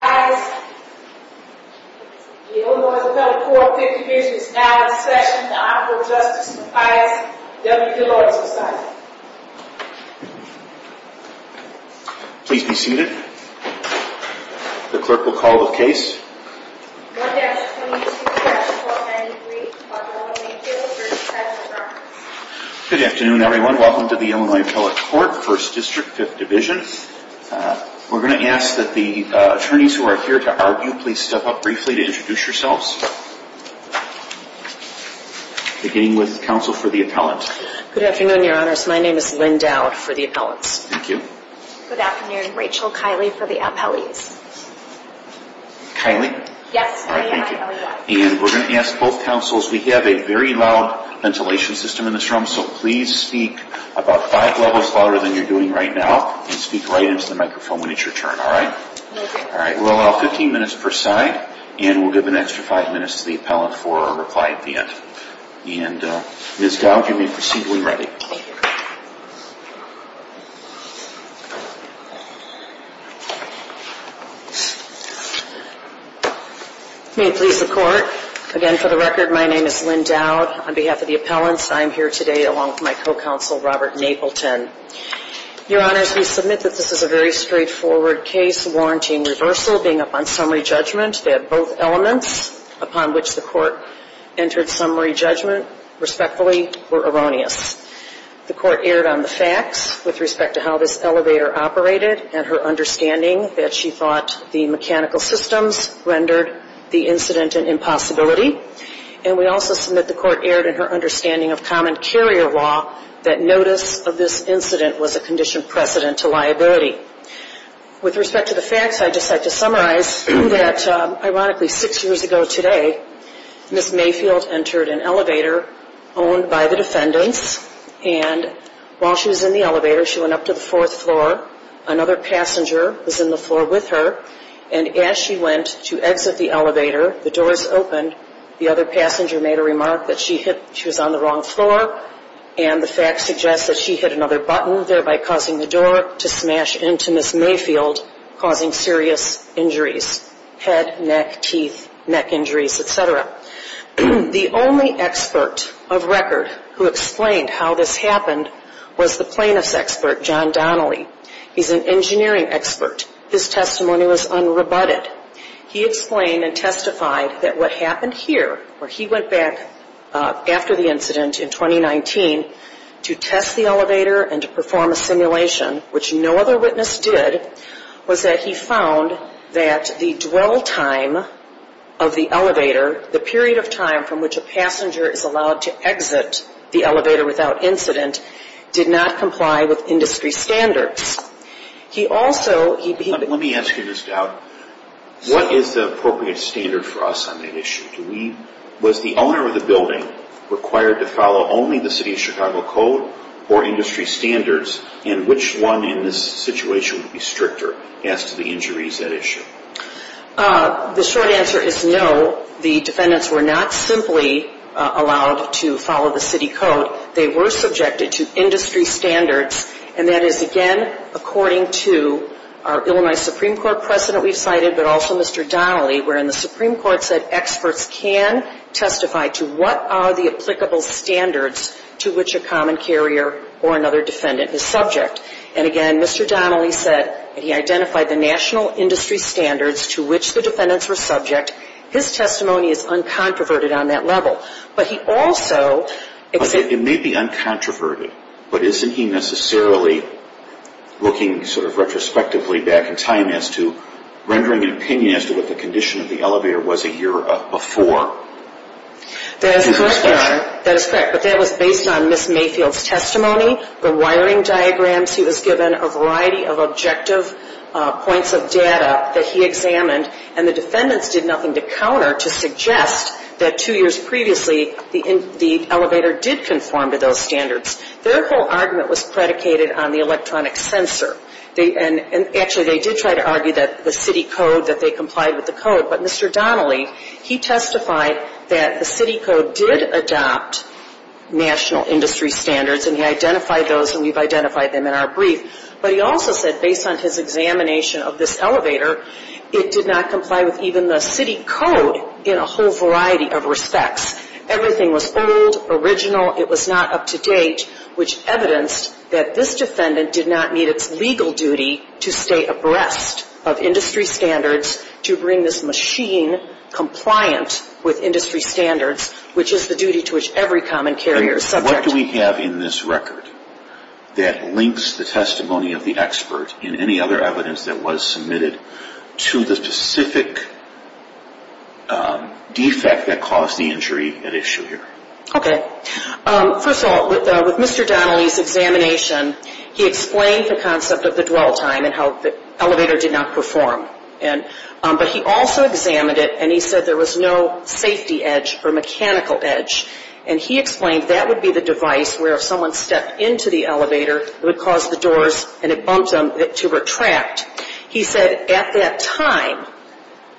The Illinois Appellate Court, 5th Division, is now in session to offer Justice Mathias W. Gilroy's resignation. Please be seated. The clerk will call the case. 1-22-1293, Dr. William A. Field v. Mavrakis. Good afternoon, everyone. Welcome to the Illinois Appellate Court, 1st District, 5th Division. We're going to ask that the attorneys who are here to argue please step up briefly to introduce yourselves. Beginning with counsel for the appellant. Good afternoon, Your Honors. My name is Lynn Dowd for the appellants. Thank you. Good afternoon. Rachel Kiley for the appellees. Kiley? Yes, I am. And we're going to ask both counsels, we have a very loud ventilation system in this room, so please speak about five levels louder than you're doing right now and speak right into the microphone when it's your turn. All right? All right. We'll allow 15 minutes per side and we'll give an extra five minutes to the appellant for a reply at the end. And Ms. Dowd, you may proceed when ready. Thank you. May it please the Court. Again, for the record, my name is Lynn Dowd. On behalf of the appellants, I'm here today along with my co-counsel, Robert Napleton. Your Honors, we submit that this is a very straightforward case, warranting reversal, being up on summary judgment. They have both elements upon which the Court entered summary judgment. Respectfully, we're erroneous. The Court erred on the facts with respect to how this elevator operated and her understanding that she thought the mechanical systems rendered the incident an impossibility. And we also submit the Court erred in her understanding of common carrier law, that notice of this incident was a conditioned precedent to liability. With respect to the facts, I'd just like to summarize that, ironically, six years ago today, Ms. Mayfield entered an elevator owned by the defendants. And while she was in the elevator, she went up to the fourth floor. Another passenger was in the floor with her. And as she went to exit the elevator, the doors opened. The other passenger made a remark that she was on the wrong floor. And the facts suggest that she hit another button, thereby causing the door to smash into Ms. Mayfield, causing serious injuries, head, neck, teeth, neck injuries, et cetera. The only expert of record who explained how this happened was the plaintiff's expert, John Donnelly. He's an engineering expert. His testimony was unrebutted. He explained and testified that what happened here, where he went back after the incident in 2019, to test the elevator and to perform a simulation, which no other witness did, was that he found that the dwell time of the elevator, the period of time from which a passenger is allowed to exit the elevator without incident, did not comply with industry standards. He also – Let me ask you this, Dowd. What is the appropriate standard for us on the issue? Was the owner of the building required to follow only the city of Chicago code or industry standards, and which one in this situation would be stricter as to the injuries at issue? The short answer is no. The defendants were not simply allowed to follow the city code. They were subjected to industry standards, and that is, again, according to our Illinois Supreme Court precedent we've cited, but also Mr. Donnelly, wherein the Supreme Court said experts can testify to what are the applicable standards to which a common carrier or another defendant is subject. And, again, Mr. Donnelly said that he identified the national industry standards to which the defendants were subject. His testimony is uncontroverted on that level. But he also – It may be uncontroverted, but isn't he necessarily looking sort of retrospectively back in time as to rendering an opinion as to what the condition of the elevator was a year before? That is correct, Your Honor. That is correct. But that was based on Ms. Mayfield's testimony, the wiring diagrams. He was given a variety of objective points of data that he examined, and the defendants did nothing to counter to suggest that two years previously the elevator did conform to those standards. Their whole argument was predicated on the electronic sensor. And, actually, they did try to argue that the city code, that they complied with the code. But Mr. Donnelly, he testified that the city code did adopt national industry standards, and he identified those, and we've identified them in our brief. But he also said, based on his examination of this elevator, it did not comply with even the city code in a whole variety of respects. Everything was old, original. It was not up to date, which evidenced that this defendant did not meet its legal duty to stay abreast of industry standards, to bring this machine compliant with industry standards, which is the duty to which every common carrier is subject. What do we have in this record that links the testimony of the expert and any other evidence that was submitted to the specific defect that caused the injury at issue here? Okay. First of all, with Mr. Donnelly's examination, he explained the concept of the dwell time and how the elevator did not perform. But he also examined it, and he said there was no safety edge or mechanical edge. And he explained that would be the device where if someone stepped into the elevator, it would cause the doors and it bumped them to retract. He said at that time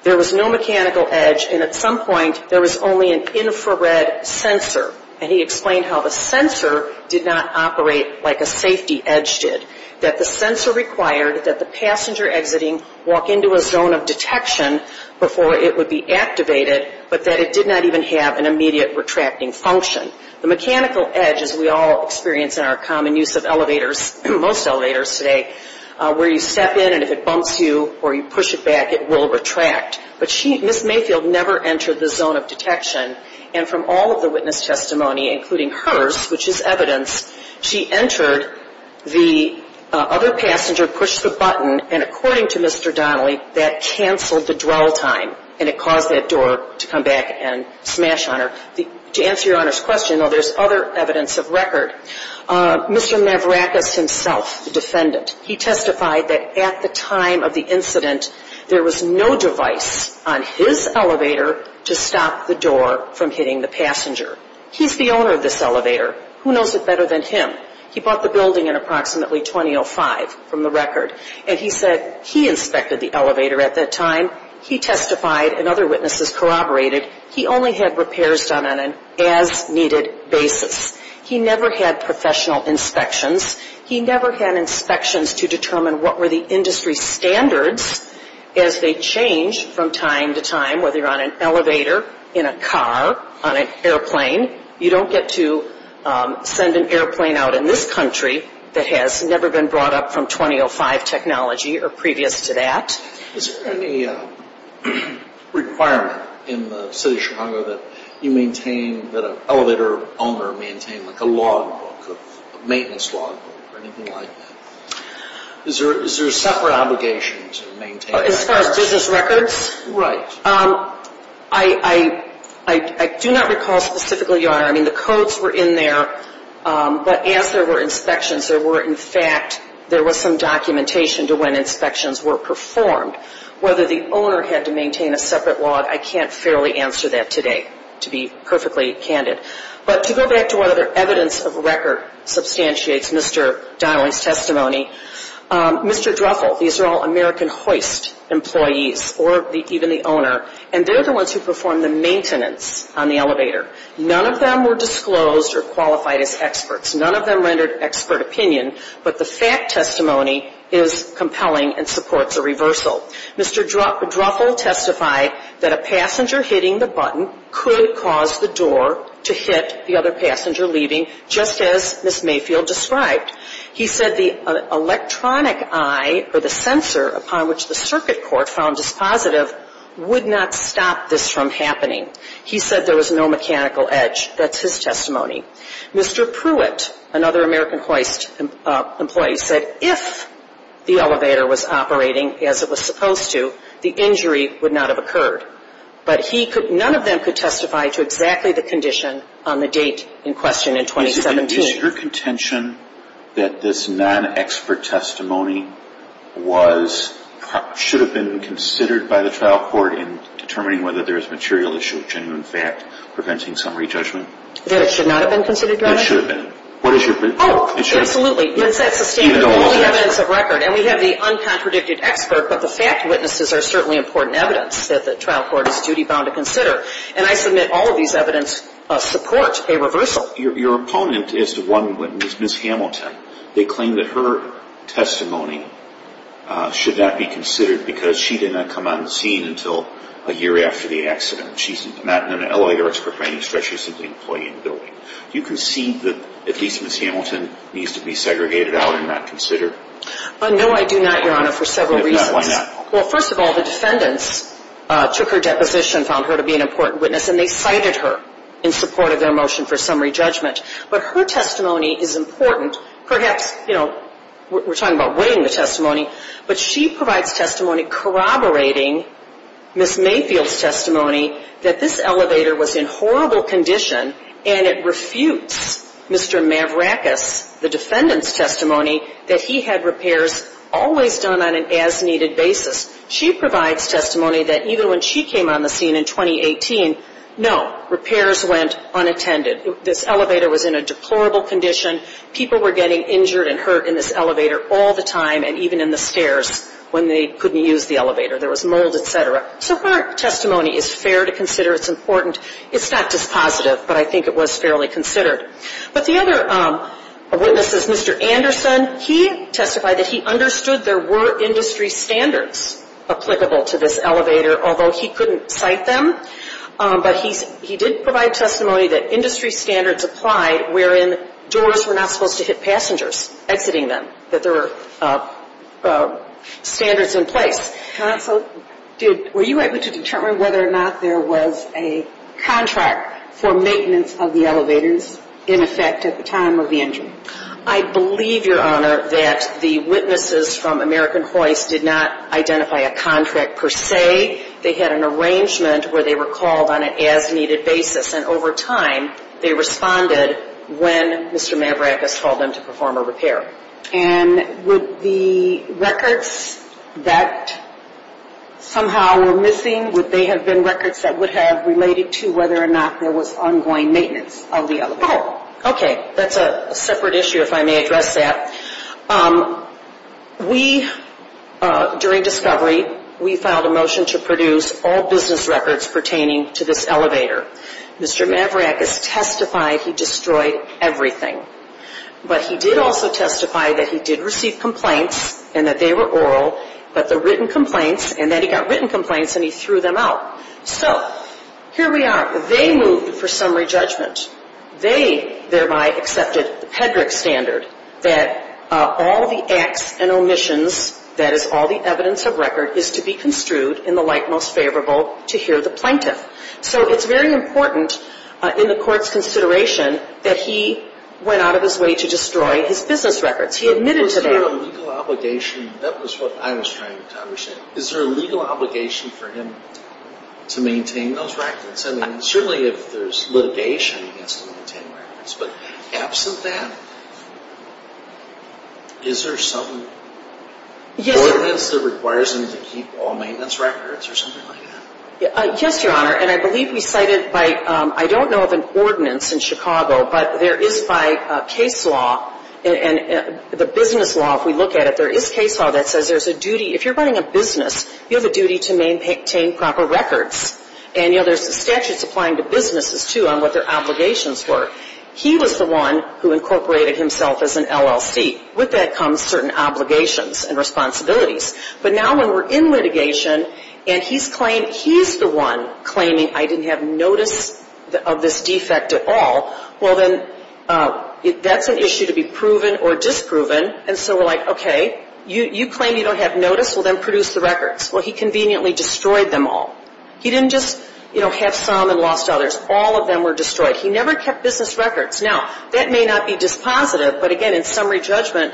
there was no mechanical edge, and at some point there was only an infrared sensor. And he explained how the sensor did not operate like a safety edge did, that the sensor required that the passenger exiting walk into a zone of detection before it would be activated, but that it did not even have an immediate retracting function. The mechanical edge, as we all experience in our common use of elevators, most elevators today, where you step in and if it bumps you or you push it back, it will retract. But she, Ms. Mayfield, never entered the zone of detection. And from all of the witness testimony, including hers, which is evidence, she entered, the other passenger pushed the button, and according to Mr. Donnelly, that canceled the dwell time, and it caused that door to come back and smash on her. To answer Your Honor's question, though, there's other evidence of record. Mr. Navrakis himself, the defendant, he testified that at the time of the incident, there was no device on his elevator to stop the door from hitting the passenger. He's the owner of this elevator. Who knows it better than him? He bought the building in approximately 2005, from the record. And he said he inspected the elevator at that time. He testified, and other witnesses corroborated, he only had repairs done on an as-needed basis. He never had professional inspections. He never had inspections to determine what were the industry standards as they changed from time to time, whether you're on an elevator, in a car, on an airplane. You don't get to send an airplane out in this country that has never been brought up from 2005 technology or previous to that. Is there any requirement in the city of Chicago that you maintain, that an elevator owner maintain, like a logbook, a maintenance logbook or anything like that? Is there a separate obligation to maintain that? As far as business records? Right. I do not recall specifically, Your Honor. I mean, the codes were in there, but as there were inspections, there were, in fact, there was some documentation to when inspections were performed. Whether the owner had to maintain a separate log, I can't fairly answer that today, to be perfectly candid. But to go back to whether evidence of record substantiates Mr. Donnelly's testimony, Mr. Druffel, these are all American Hoist employees or even the owner, and they're the ones who perform the maintenance on the elevator. None of them were disclosed or qualified as experts. None of them rendered expert opinion. But the fact testimony is compelling and supports a reversal. Mr. Druffel testified that a passenger hitting the button could cause the door to hit the other passenger leaving, just as Ms. Mayfield described. He said the electronic eye or the sensor upon which the circuit court found this positive would not stop this from happening. He said there was no mechanical edge. That's his testimony. Mr. Pruitt, another American Hoist employee, said if the elevator was operating as it was supposed to, the injury would not have occurred. But he could, none of them could testify to exactly the condition on the date in question in 2017. Is your contention that this non-expert testimony was, should have been considered by the trial court in determining whether there is material issue, genuine fact, preventing summary judgment? That it should not have been considered, Your Honor? It should have been. Oh, absolutely. That's the standard evidence of record. And we have the uncontradicted expert, but the fact witnesses are certainly important evidence that the trial court is duty-bound to consider. And I submit all of these evidence support a reversal. Your opponent is the one witness, Ms. Hamilton. They claim that her testimony should not be considered because she did not come on the scene until a year after the accident. She's not an LA expert by any stretch. She's simply an employee in the building. Do you concede that at least Ms. Hamilton needs to be segregated out and not considered? No, I do not, Your Honor, for several reasons. If not, why not? Well, first of all, the defendants took her deposition, found her to be an important witness, and they cited her in support of their motion for summary judgment. But her testimony is important. Perhaps, you know, we're talking about weighing the testimony, but she provides testimony corroborating Ms. Mayfield's testimony that this elevator was in horrible condition, and it refutes Mr. Mavrakis, the defendant's testimony, that he had repairs always done on an as-needed basis. She provides testimony that even when she came on the scene in 2018, no, repairs went unattended. This elevator was in a deplorable condition. People were getting injured and hurt in this elevator all the time, and even in the stairs when they couldn't use the elevator. There was mold, et cetera. So her testimony is fair to consider. It's important. It's not dispositive, but I think it was fairly considered. But the other witness is Mr. Anderson. He testified that he understood there were industry standards applicable to this elevator, although he couldn't cite them. But he did provide testimony that industry standards applied wherein doors were not supposed to hit passengers exiting them, that there were standards in place. Counsel, were you able to determine whether or not there was a contract for maintenance of the elevators, in effect, at the time of the injury? I believe, Your Honor, that the witnesses from American Hoist did not identify a contract per se. They had an arrangement where they were called on an as-needed basis, and over time they responded when Mr. Mavrakis told them to perform a repair. And would the records that somehow were missing, would they have been records that would have related to whether or not there was ongoing maintenance of the elevator? Oh, okay. That's a separate issue, if I may address that. We, during discovery, we filed a motion to produce all business records pertaining to this elevator. Mr. Mavrakis testified he destroyed everything. But he did also testify that he did receive complaints and that they were oral, but the written complaints, and then he got written complaints and he threw them out. So, here we are. They moved for summary judgment. They, thereby, accepted the Pedrick standard that all the acts and omissions, that is all the evidence of record, is to be construed in the light most favorable to hear the plaintiff. So, it's very important in the court's consideration that he went out of his way to destroy his business records. He admitted to that. Was there a legal obligation? That was what I was trying to understand. Is there a legal obligation for him to maintain those records? I mean, certainly if there's litigation, he has to maintain records. But absent that, is there some ordinance that requires him to keep all maintenance records or something like that? Yes, Your Honor. And I believe we cited by, I don't know of an ordinance in Chicago, but there is by case law and the business law, if we look at it, there is case law that says there's a duty, if you're running a business, you have a duty to maintain proper records. And, you know, there's statutes applying to businesses, too, on what their obligations were. He was the one who incorporated himself as an LLC. With that comes certain obligations and responsibilities. But now when we're in litigation and he's claimed he's the one claiming I didn't have notice of this defect at all, well, then that's an issue to be proven or disproven. And so we're like, okay, you claim you don't have notice. Well, then produce the records. Well, he conveniently destroyed them all. He didn't just, you know, have some and lost others. All of them were destroyed. He never kept business records. Now, that may not be dispositive, but, again, in summary judgment,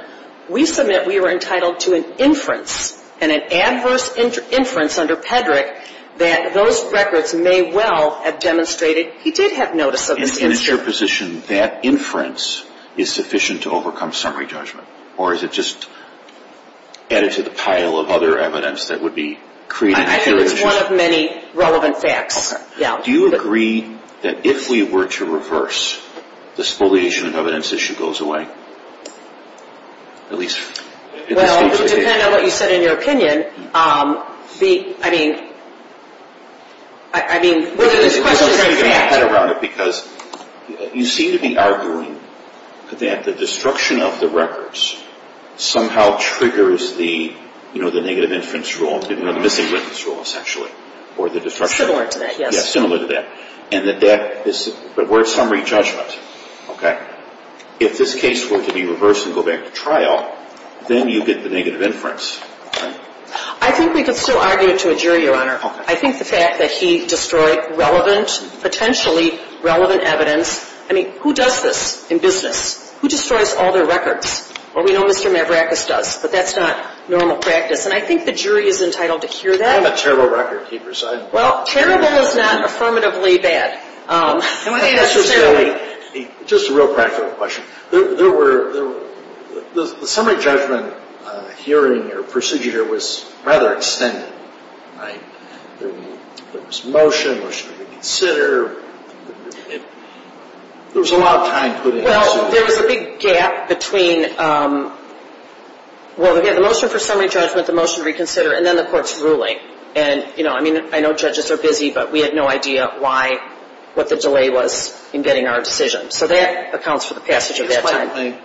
we submit we were entitled to an inference and an adverse inference under Peddrick that those records may well have demonstrated he did have notice of this incident. And is your position that inference is sufficient to overcome summary judgment or is it just added to the pile of other evidence that would be created? I think it's one of many relevant facts. Do you agree that if we were to reverse, the spoliation of evidence issue goes away? At least. Well, depending on what you said in your opinion, I mean, whether this question is a fact. Because you seem to be arguing that the destruction of the records somehow triggers the, you know, the negative inference rule, you know, the missing witness rule, essentially, or the destruction. Similar to that, yes. Yes, similar to that. And that that is where summary judgment, okay. If this case were to be reversed and go back to trial, then you get the negative inference. I think we could still argue to a jury, Your Honor. I think the fact that he destroyed relevant, potentially relevant evidence. I mean, who does this in business? Who destroys all their records? Well, we know Mr. Mavrakis does, but that's not normal practice. And I think the jury is entitled to hear that. I have a terrible record, keep your side. Well, terrible is not affirmatively bad, necessarily. Just a real practical question. There were, the summary judgment hearing or procedure was rather extended, right? There was motion, motion to consider. There was a lot of time put into this. Well, there was a big gap between, well, we had a motion for summary judgment, the motion to reconsider, and then the court's ruling. And, you know, I mean, I know judges are busy, but we had no idea why, what the delay was in getting our decision. So that accounts for the passage of that time.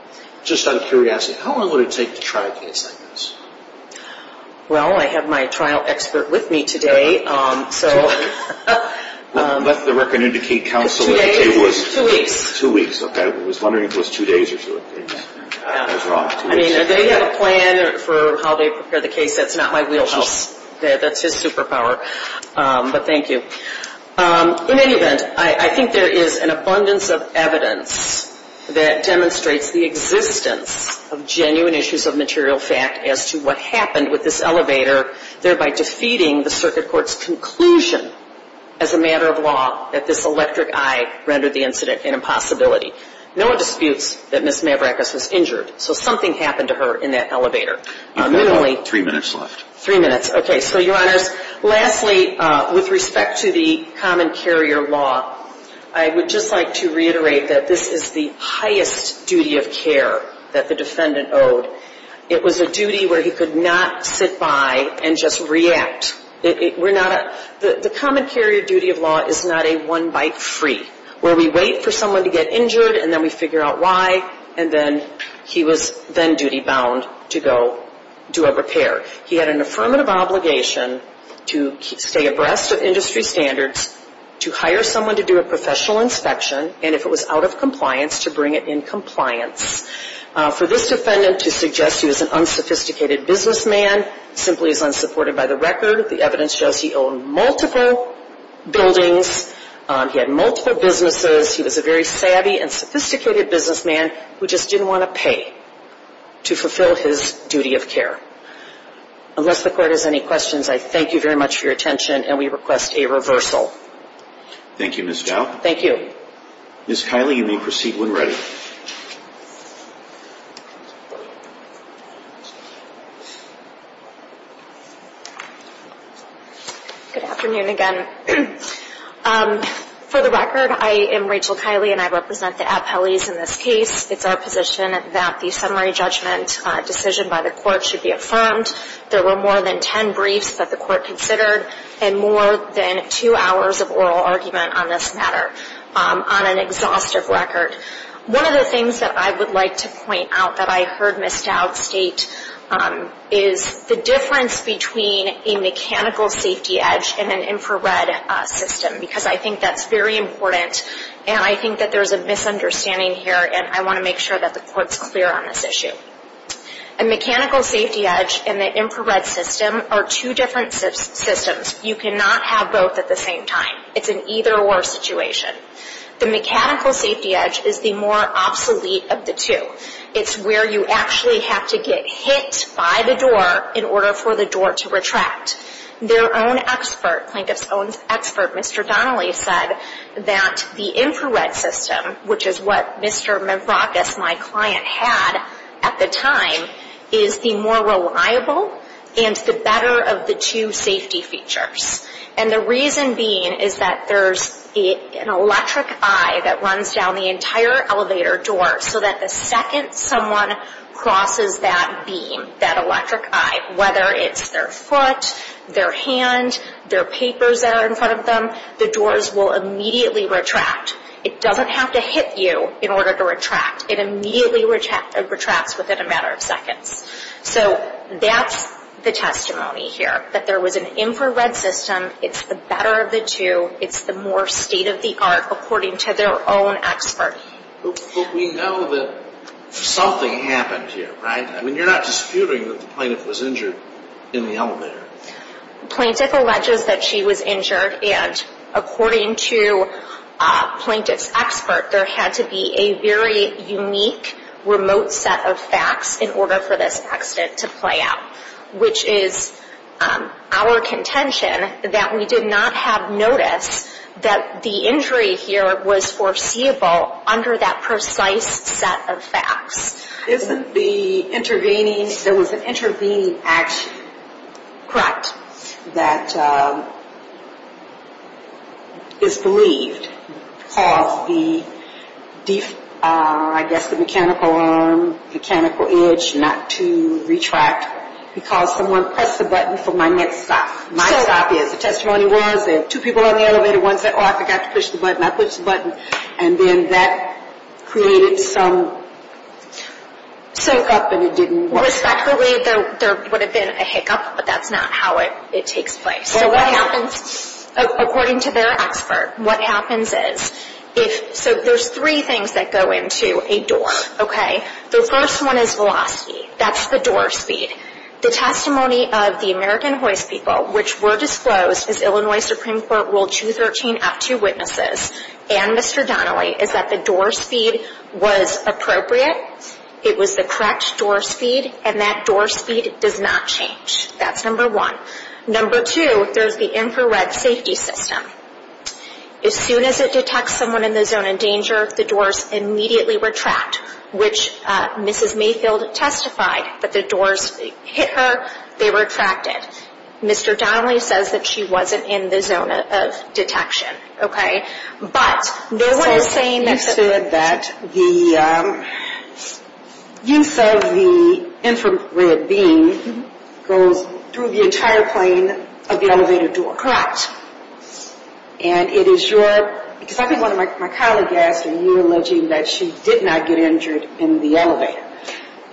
Just out of curiosity, how long would it take to try a case like this? Well, I have my trial expert with me today, so. Let the record indicate, counsel, that it was. Two days, two weeks. Two weeks, okay. I was wondering if it was two days or two weeks. I mean, do they have a plan for how they prepare the case? That's not my wheelhouse. That's his superpower. But thank you. In any event, I think there is an abundance of evidence that demonstrates the existence of genuine issues of material fact as to what happened with this elevator, thereby defeating the circuit court's conclusion as a matter of law that this electric eye rendered the incident an impossibility. No one disputes that Ms. Mavrakis was injured. So something happened to her in that elevator. You've got about three minutes left. Three minutes, okay. So, Your Honors, lastly, with respect to the common carrier law, I would just like to reiterate that this is the highest duty of care that the defendant owed. It was a duty where he could not sit by and just react. The common carrier duty of law is not a one-bite-free, where we wait for someone to get injured, and then we figure out why, and then he was then duty-bound to go do a repair. He had an affirmative obligation to stay abreast of industry standards, to hire someone to do a professional inspection, and if it was out of compliance, to bring it in compliance. For this defendant to suggest he was an unsophisticated businessman simply is unsupported by the record. The evidence shows he owned multiple buildings. He had multiple businesses. He was a very savvy and sophisticated businessman who just didn't want to pay to fulfill his duty of care. Unless the Court has any questions, I thank you very much for your attention, and we request a reversal. Thank you, Ms. Dowd. Thank you. Ms. Kiley, you may proceed when ready. Thank you. Good afternoon again. For the record, I am Rachel Kiley, and I represent the Appellees in this case. It's our position that the summary judgment decision by the Court should be affirmed. There were more than 10 briefs that the Court considered and more than two hours of oral argument on this matter on an exhaustive record. One of the things that I would like to point out that I heard Ms. Dowd state is the difference between a mechanical safety edge and an infrared system, because I think that's very important, and I think that there's a misunderstanding here, and I want to make sure that the Court's clear on this issue. A mechanical safety edge and an infrared system are two different systems. You cannot have both at the same time. It's an either-or situation. The mechanical safety edge is the more obsolete of the two. It's where you actually have to get hit by the door in order for the door to retract. Their own expert, Plinkett's own expert, Mr. Donnelly, said that the infrared system, which is what Mr. Mavrakis, my client, had at the time, is the more reliable and the better of the two safety features. And the reason being is that there's an electric eye that runs down the entire elevator door so that the second someone crosses that beam, that electric eye, whether it's their foot, their hand, their papers that are in front of them, the doors will immediately retract. It doesn't have to hit you in order to retract. It immediately retracts within a matter of seconds. So that's the testimony here, that there was an infrared system. It's the better of the two. It's the more state-of-the-art according to their own expert. But we know that something happened here, right? I mean, you're not disputing that the plaintiff was injured in the elevator. Plaintiff alleges that she was injured, and according to Plinkett's expert, there had to be a very unique remote set of facts in order for this accident to play out, which is our contention that we did not have notice that the injury here was foreseeable under that precise set of facts. Isn't the intervening? There was an intervening action. Correct. That is believed to cause the, I guess, the mechanical arm, mechanical edge not to retract because someone pressed the button for my next stop. My stop is. The testimony was there were two people on the elevator. One said, oh, I forgot to push the button. I pushed the button, and then that created some hiccup, and it didn't work. Respectfully, there would have been a hiccup, but that's not how it takes place. So what happens, according to their expert, what happens is if, so there's three things that go into a door, okay? The first one is velocity. That's the door speed. The testimony of the American hoist people, which were disclosed as Illinois Supreme Court Rule 213-F2 witnesses and Mr. Donnelly is that the door speed was appropriate. It was the correct door speed, and that door speed does not change. That's number one. Number two, there's the infrared safety system. As soon as it detects someone in the zone of danger, the doors immediately retract, which Mrs. Mayfield testified that the doors hit her. They retracted. Mr. Donnelly says that she wasn't in the zone of detection, okay? So you said that the use of the infrared beam goes through the entire plane of the elevator door. Correct. And it is your, because I think one of my colleagues asked when you were alleging that she did not get injured in the elevator.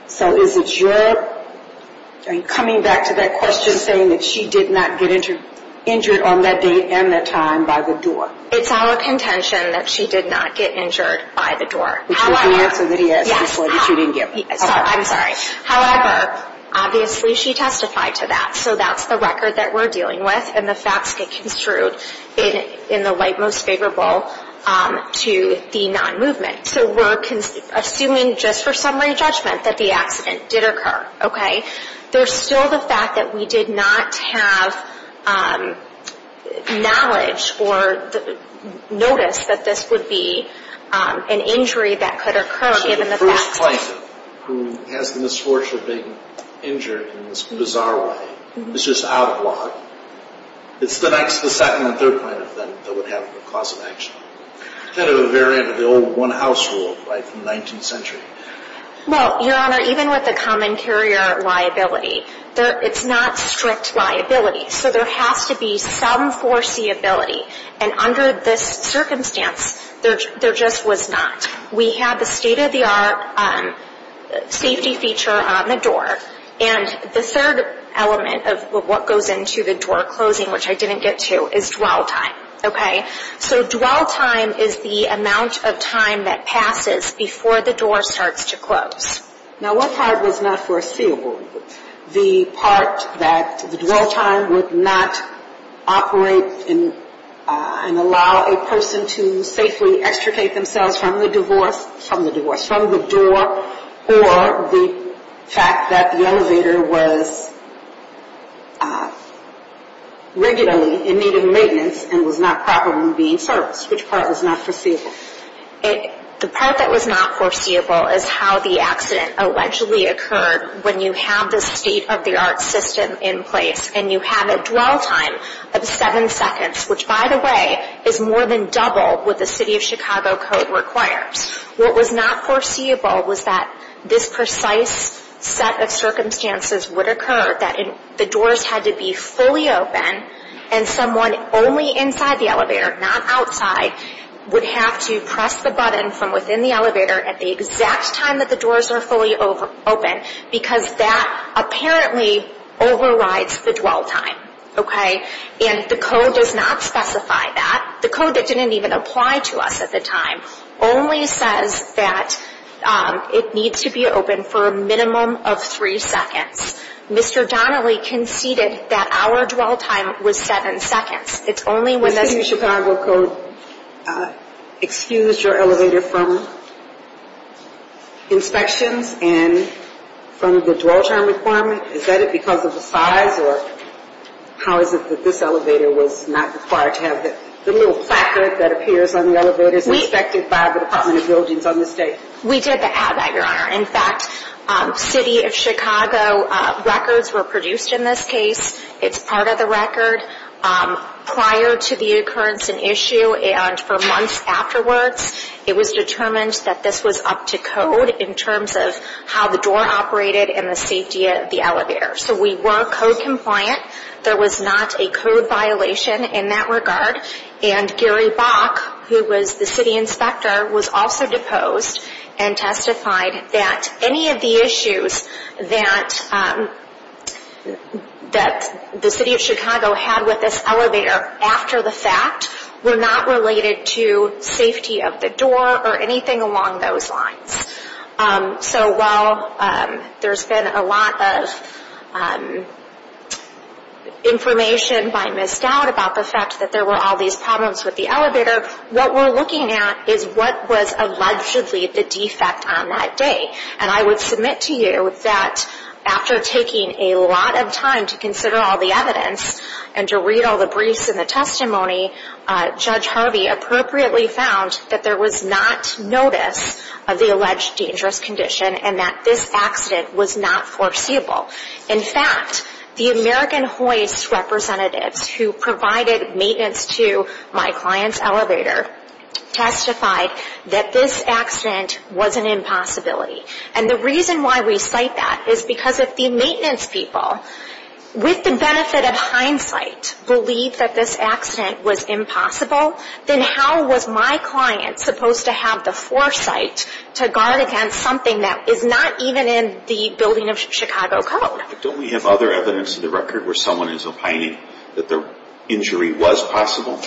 So is it your coming back to that question saying that she did not get injured on that date and that time by the door? It's our contention that she did not get injured by the door. Which was the answer that he asked before that you didn't give him. I'm sorry. However, obviously she testified to that. So that's the record that we're dealing with, and the facts get construed in the light most favorable to the non-movement. So we're assuming just for summary judgment that the accident did occur, okay? There's still the fact that we did not have knowledge or notice that this would be an injury that could occur given the facts. If a plane who has the misfortune of being injured in this bizarre way is just out of luck, it's the next, the second, and third plane that would have a cause of action. Kind of a variant of the old one-house rule right from the 19th century. Well, Your Honor, even with the common carrier liability, it's not strict liability. So there has to be some foreseeability. And under this circumstance, there just was not. We have the state-of-the-art safety feature on the door. And the third element of what goes into the door closing, which I didn't get to, is dwell time, okay? So dwell time is the amount of time that passes before the door starts to close. Now, what part was not foreseeable? The part that the dwell time would not operate and allow a person to safely extricate themselves from the divorce, from the divorce, from the door, or the fact that the elevator was regularly in need of maintenance and was not properly being serviced. Which part was not foreseeable? The part that was not foreseeable is how the accident allegedly occurred when you have the state-of-the-art system in place and you have a dwell time of seven seconds, which, by the way, is more than double what the City of Chicago Code requires. What was not foreseeable was that this precise set of circumstances would occur, that the doors had to be fully open and someone only inside the elevator, not outside, would have to press the button from within the elevator at the exact time that the doors are fully open because that apparently overrides the dwell time, okay? And the code does not specify that. The code that didn't even apply to us at the time only says that it needs to be open for a minimum of three seconds. Mr. Donnelly conceded that our dwell time was seven seconds. The City of Chicago Code excused your elevator from inspections and from the dwell time requirement. Is that because of the size or how is it that this elevator was not required to have the little placard that appears on the elevators inspected by the Department of Buildings on this date? We did not have that, Your Honor. In fact, City of Chicago records were produced in this case. It's part of the record. Prior to the occurrence and issue and for months afterwards, it was determined that this was up to code in terms of how the door operated and the safety of the elevator. So we were code compliant. There was not a code violation in that regard. And Gary Bach, who was the city inspector, was also deposed and testified that any of the issues that the City of Chicago had with this elevator after the fact were not related to safety of the door or anything along those lines. So while there's been a lot of information by Ms. Dowd about the fact that there were all these problems with the elevator, what we're looking at is what was allegedly the defect on that day. And I would submit to you that after taking a lot of time to consider all the evidence and to read all the briefs and the testimony, Judge Harvey appropriately found that there was not notice of the alleged dangerous condition and that this accident was not foreseeable. In fact, the American Hoist representatives who provided maintenance to my client's elevator testified that this accident was an impossibility. And the reason why we cite that is because if the maintenance people, with the benefit of hindsight, believed that this accident was impossible, then how was my client supposed to have the foresight to guard against something that is not even in the building of Chicago Code? Don't we have other evidence in the record where someone is opining that the injury was possible?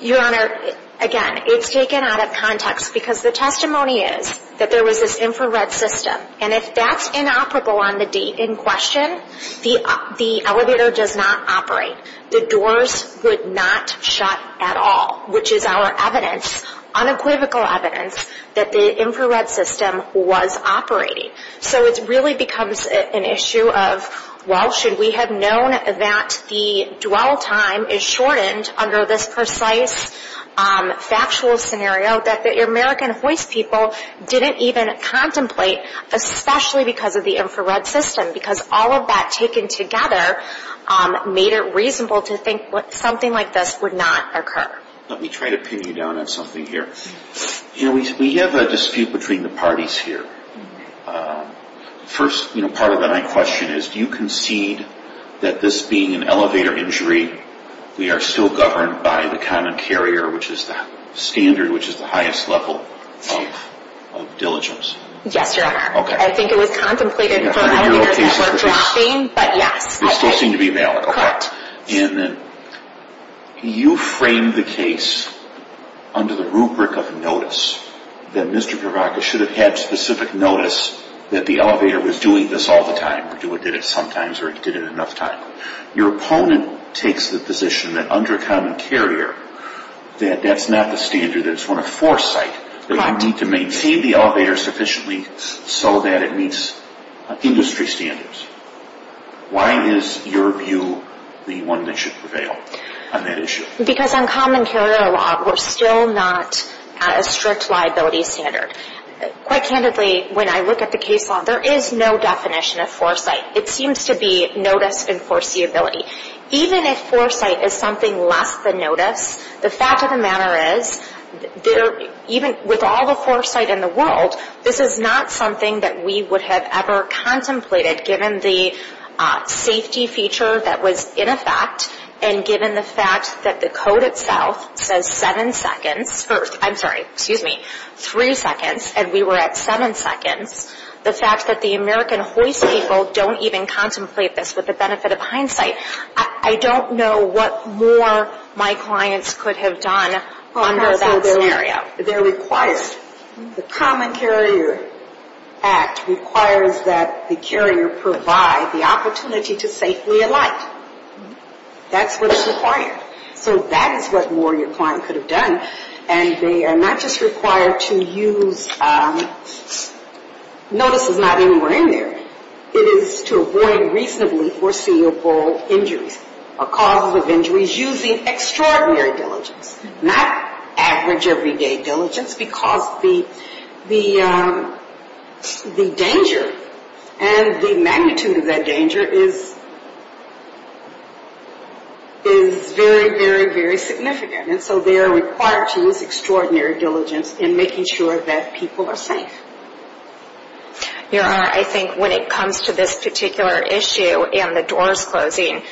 Your Honor, again, it's taken out of context because the testimony is that there was this infrared system. And if that's inoperable on the date in question, the elevator does not operate. The doors would not shut at all, which is our evidence, unequivocal evidence, that the infrared system was operating. So it really becomes an issue of, well, should we have known that the dwell time is shortened under this precise factual scenario that the American Hoist people didn't even contemplate, especially because of the infrared system? Because all of that taken together made it reasonable to think something like this would not occur. Let me try to pin you down on something here. We have a dispute between the parties here. First, part of my question is, do you concede that this being an elevator injury, we are still governed by the common carrier, which is the standard, which is the highest level of diligence? Yes, Your Honor. Okay. I think it was contemplated for a hundred years before dropping, but yes. They still seem to be valid. Correct. And then you frame the case under the rubric of notice, that Mr. Provoca should have had specific notice that the elevator was doing this all the time, or did it sometimes, or it did it enough times. Your opponent takes the position that under common carrier, that that's not the standard. That it's one of foresight. Correct. That you need to maintain the elevator sufficiently so that it meets industry standards. Why is your view the one that should prevail on that issue? Because on common carrier law, we're still not at a strict liability standard. Quite candidly, when I look at the case law, there is no definition of foresight. It seems to be notice and foreseeability. Even if foresight is something less than notice, the fact of the matter is, even with all the foresight in the world, this is not something that we would have ever contemplated, given the safety feature that was in effect, and given the fact that the code itself says seven seconds, or I'm sorry, excuse me, three seconds, and we were at seven seconds, the fact that the American hoist people don't even contemplate this with the benefit of hindsight, I don't know what more my clients could have done under that scenario. They're required. The common carrier act requires that the carrier provide the opportunity to safely alight. That's what is required. So that is what more your client could have done. And they are not just required to use, notice is not anywhere in there, it is to avoid reasonably foreseeable injuries, or causes of injuries using extraordinary diligence, not average, everyday diligence, because the danger and the magnitude of that danger is very, very, very significant. And so they are required to use extraordinary diligence in making sure that people are safe. Your Honor, I think when it comes to this particular issue, and the doors closing,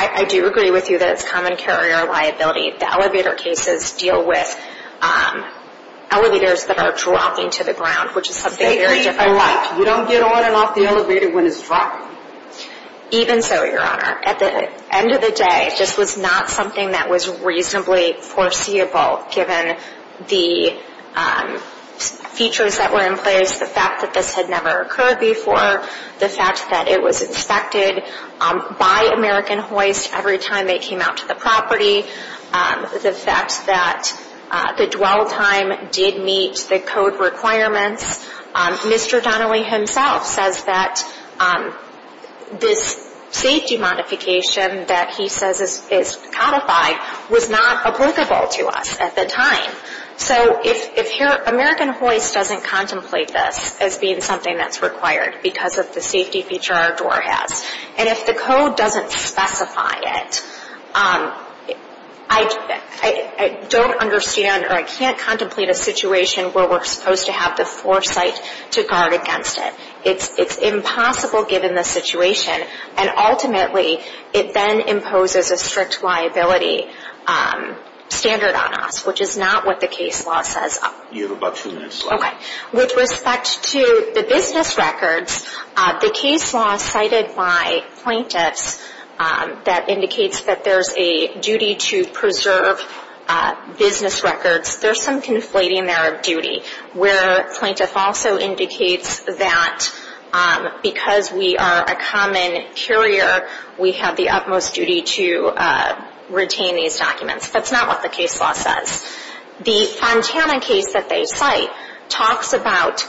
I do agree with you that it's common carrier liability. The elevator cases deal with elevators that are dropping to the ground, which is something very different. You don't get on and off the elevator when it's dropping. Even so, Your Honor. At the end of the day, this was not something that was reasonably foreseeable, given the features that were in place, the fact that this had never occurred before, the fact that it was inspected by American Hoist every time it came out to the property, the fact that the dwell time did meet the code requirements. Mr. Donnelly himself says that this safety modification that he says is codified was not applicable to us at the time. So if American Hoist doesn't contemplate this as being something that's required because of the safety feature our door has, and if the code doesn't specify it, I don't understand or I can't contemplate a situation where we're supposed to have the foresight to guard against it. It's impossible given the situation, and ultimately it then imposes a strict liability standard on us, which is not what the case law says. You have about two minutes left. Okay. With respect to the business records, the case law cited by plaintiffs that indicates that there's a duty to preserve business records, there's some conflating there of duty, where plaintiff also indicates that because we are a common courier, we have the utmost duty to retain these documents. That's not what the case law says. The Fontana case that they cite talks about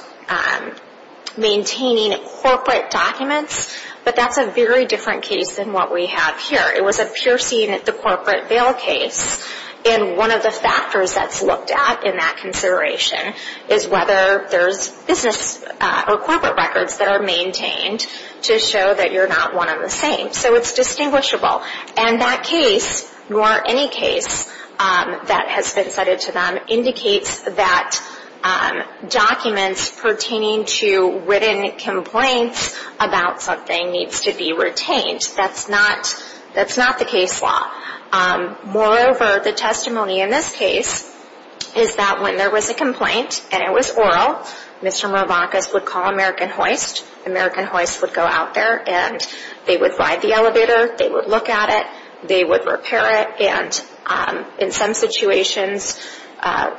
maintaining corporate documents, but that's a very different case than what we have here. It was a piercing at the corporate bail case, and one of the factors that's looked at in that consideration is whether there's business or corporate records that are maintained to show that you're not one and the same, so it's distinguishable. And that case, or any case that has been cited to them, indicates that documents pertaining to written complaints about something needs to be retained. That's not the case law. Moreover, the testimony in this case is that when there was a complaint and it was oral, Mr. Mervakis would call American Hoist. American Hoist would go out there, and they would ride the elevator, they would look at it, they would repair it, and in some situations,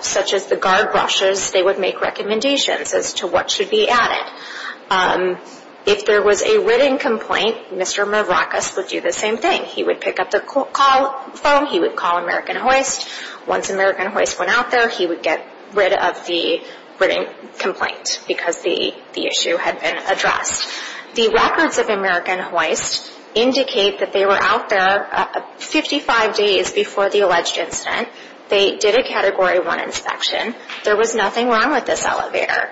such as the guard brushes, they would make recommendations as to what should be added. If there was a written complaint, Mr. Mervakis would do the same thing. He would pick up the phone, he would call American Hoist. Once American Hoist went out there, he would get rid of the written complaint because the issue had been addressed. The records of American Hoist indicate that they were out there 55 days before the alleged incident. They did a Category 1 inspection. There was nothing wrong with this elevator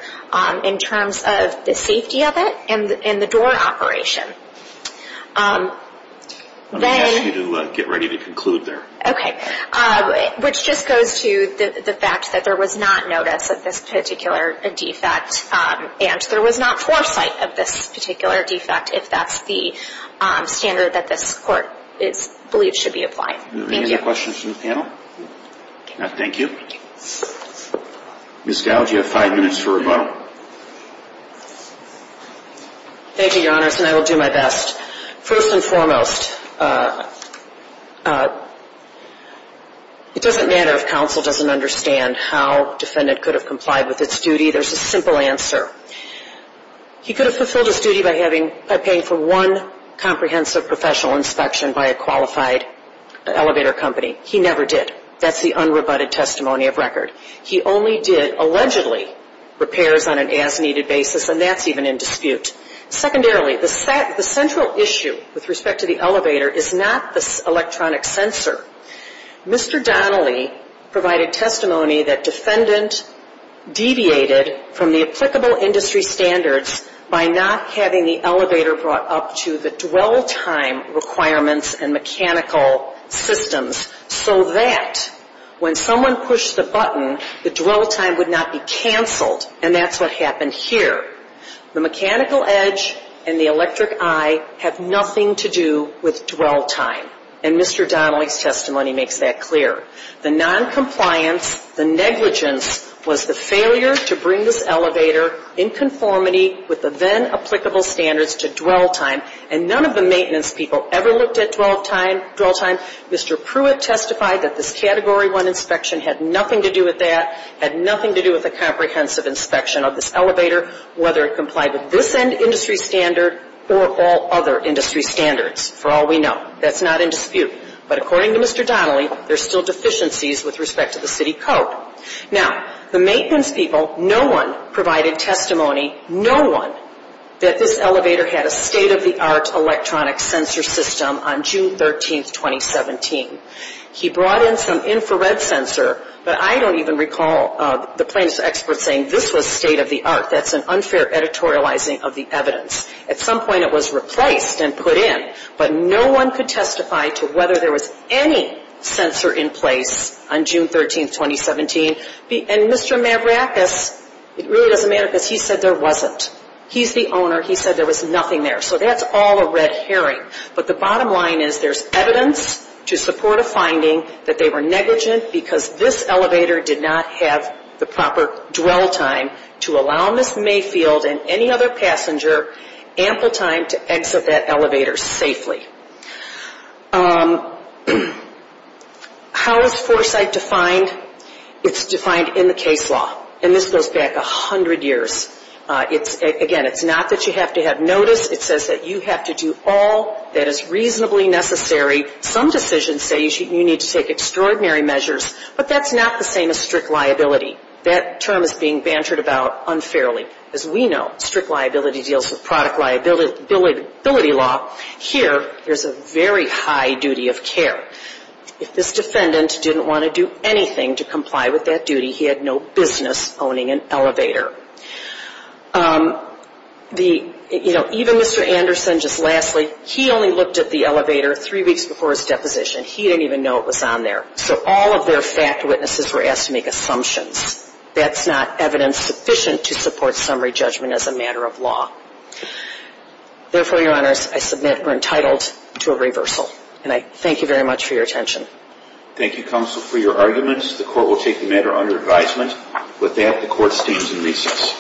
in terms of the safety of it and the door operation. I'm going to ask you to get ready to conclude there. Okay. Which just goes to the fact that there was not notice of this particular defect, and there was not foresight of this particular defect, if that's the standard that this Court believes should be applying. Thank you. Any other questions from the panel? No. Thank you. Ms. Gow, do you have five minutes for rebuttal? Thank you, Your Honors, and I will do my best. First and foremost, it doesn't matter if counsel doesn't understand how a defendant could have complied with its duty. There's a simple answer. He could have fulfilled his duty by paying for one comprehensive professional inspection by a qualified elevator company. He never did. That's the unrebutted testimony of record. He only did, allegedly, repairs on an as-needed basis, and that's even in dispute. Secondarily, the central issue with respect to the elevator is not the electronic sensor. Mr. Donnelly provided testimony that defendant deviated from the applicable industry standards by not having the elevator brought up to the dwell time requirements and mechanical systems so that when someone pushed the button, the dwell time would not be canceled, and that's what happened here. The mechanical edge and the electric eye have nothing to do with dwell time, and Mr. Donnelly's testimony makes that clear. The noncompliance, the negligence was the failure to bring this elevator in conformity with the then applicable standards to dwell time, and none of the maintenance people ever looked at dwell time. Mr. Pruitt testified that this Category 1 inspection had nothing to do with that, had nothing to do with a comprehensive inspection of this elevator, whether it complied with this end industry standard or all other industry standards, for all we know. That's not in dispute. But according to Mr. Donnelly, there's still deficiencies with respect to the city code. Now, the maintenance people, no one provided testimony, no one, that this elevator had a state-of-the-art electronic sensor system on June 13, 2017. He brought in some infrared sensor, but I don't even recall the plaintiff's expert saying this was state-of-the-art. That's an unfair editorializing of the evidence. At some point, it was replaced and put in, but no one could testify to whether there was any sensor in place on June 13, 2017. And Mr. Mavrakis, it really doesn't matter because he said there wasn't. He's the owner. He said there was nothing there. So that's all a red herring. But the bottom line is there's evidence to support a finding that they were negligent because this elevator did not have the proper dwell time to allow Ms. Mayfield and any other passenger ample time to exit that elevator safely. How is foresight defined? It's defined in the case law. And this goes back 100 years. Again, it's not that you have to have notice. It says that you have to do all that is reasonably necessary. Some decisions say you need to take extraordinary measures, but that's not the same as strict liability. That term is being bantered about unfairly. As we know, strict liability deals with product liability law. Here, there's a very high duty of care. If this defendant didn't want to do anything to comply with that duty, he had no business owning an elevator. The, you know, even Mr. Anderson, just lastly, he only looked at the elevator three weeks before his deposition. He didn't even know it was on there. So all of their fact witnesses were asked to make assumptions. That's not evidence sufficient to support summary judgment as a matter of law. Therefore, your honors, I submit we're entitled to a reversal. And I thank you very much for your attention. Thank you, counsel, for your arguments. The court will take the matter under advisement. With that, the court stands in recess.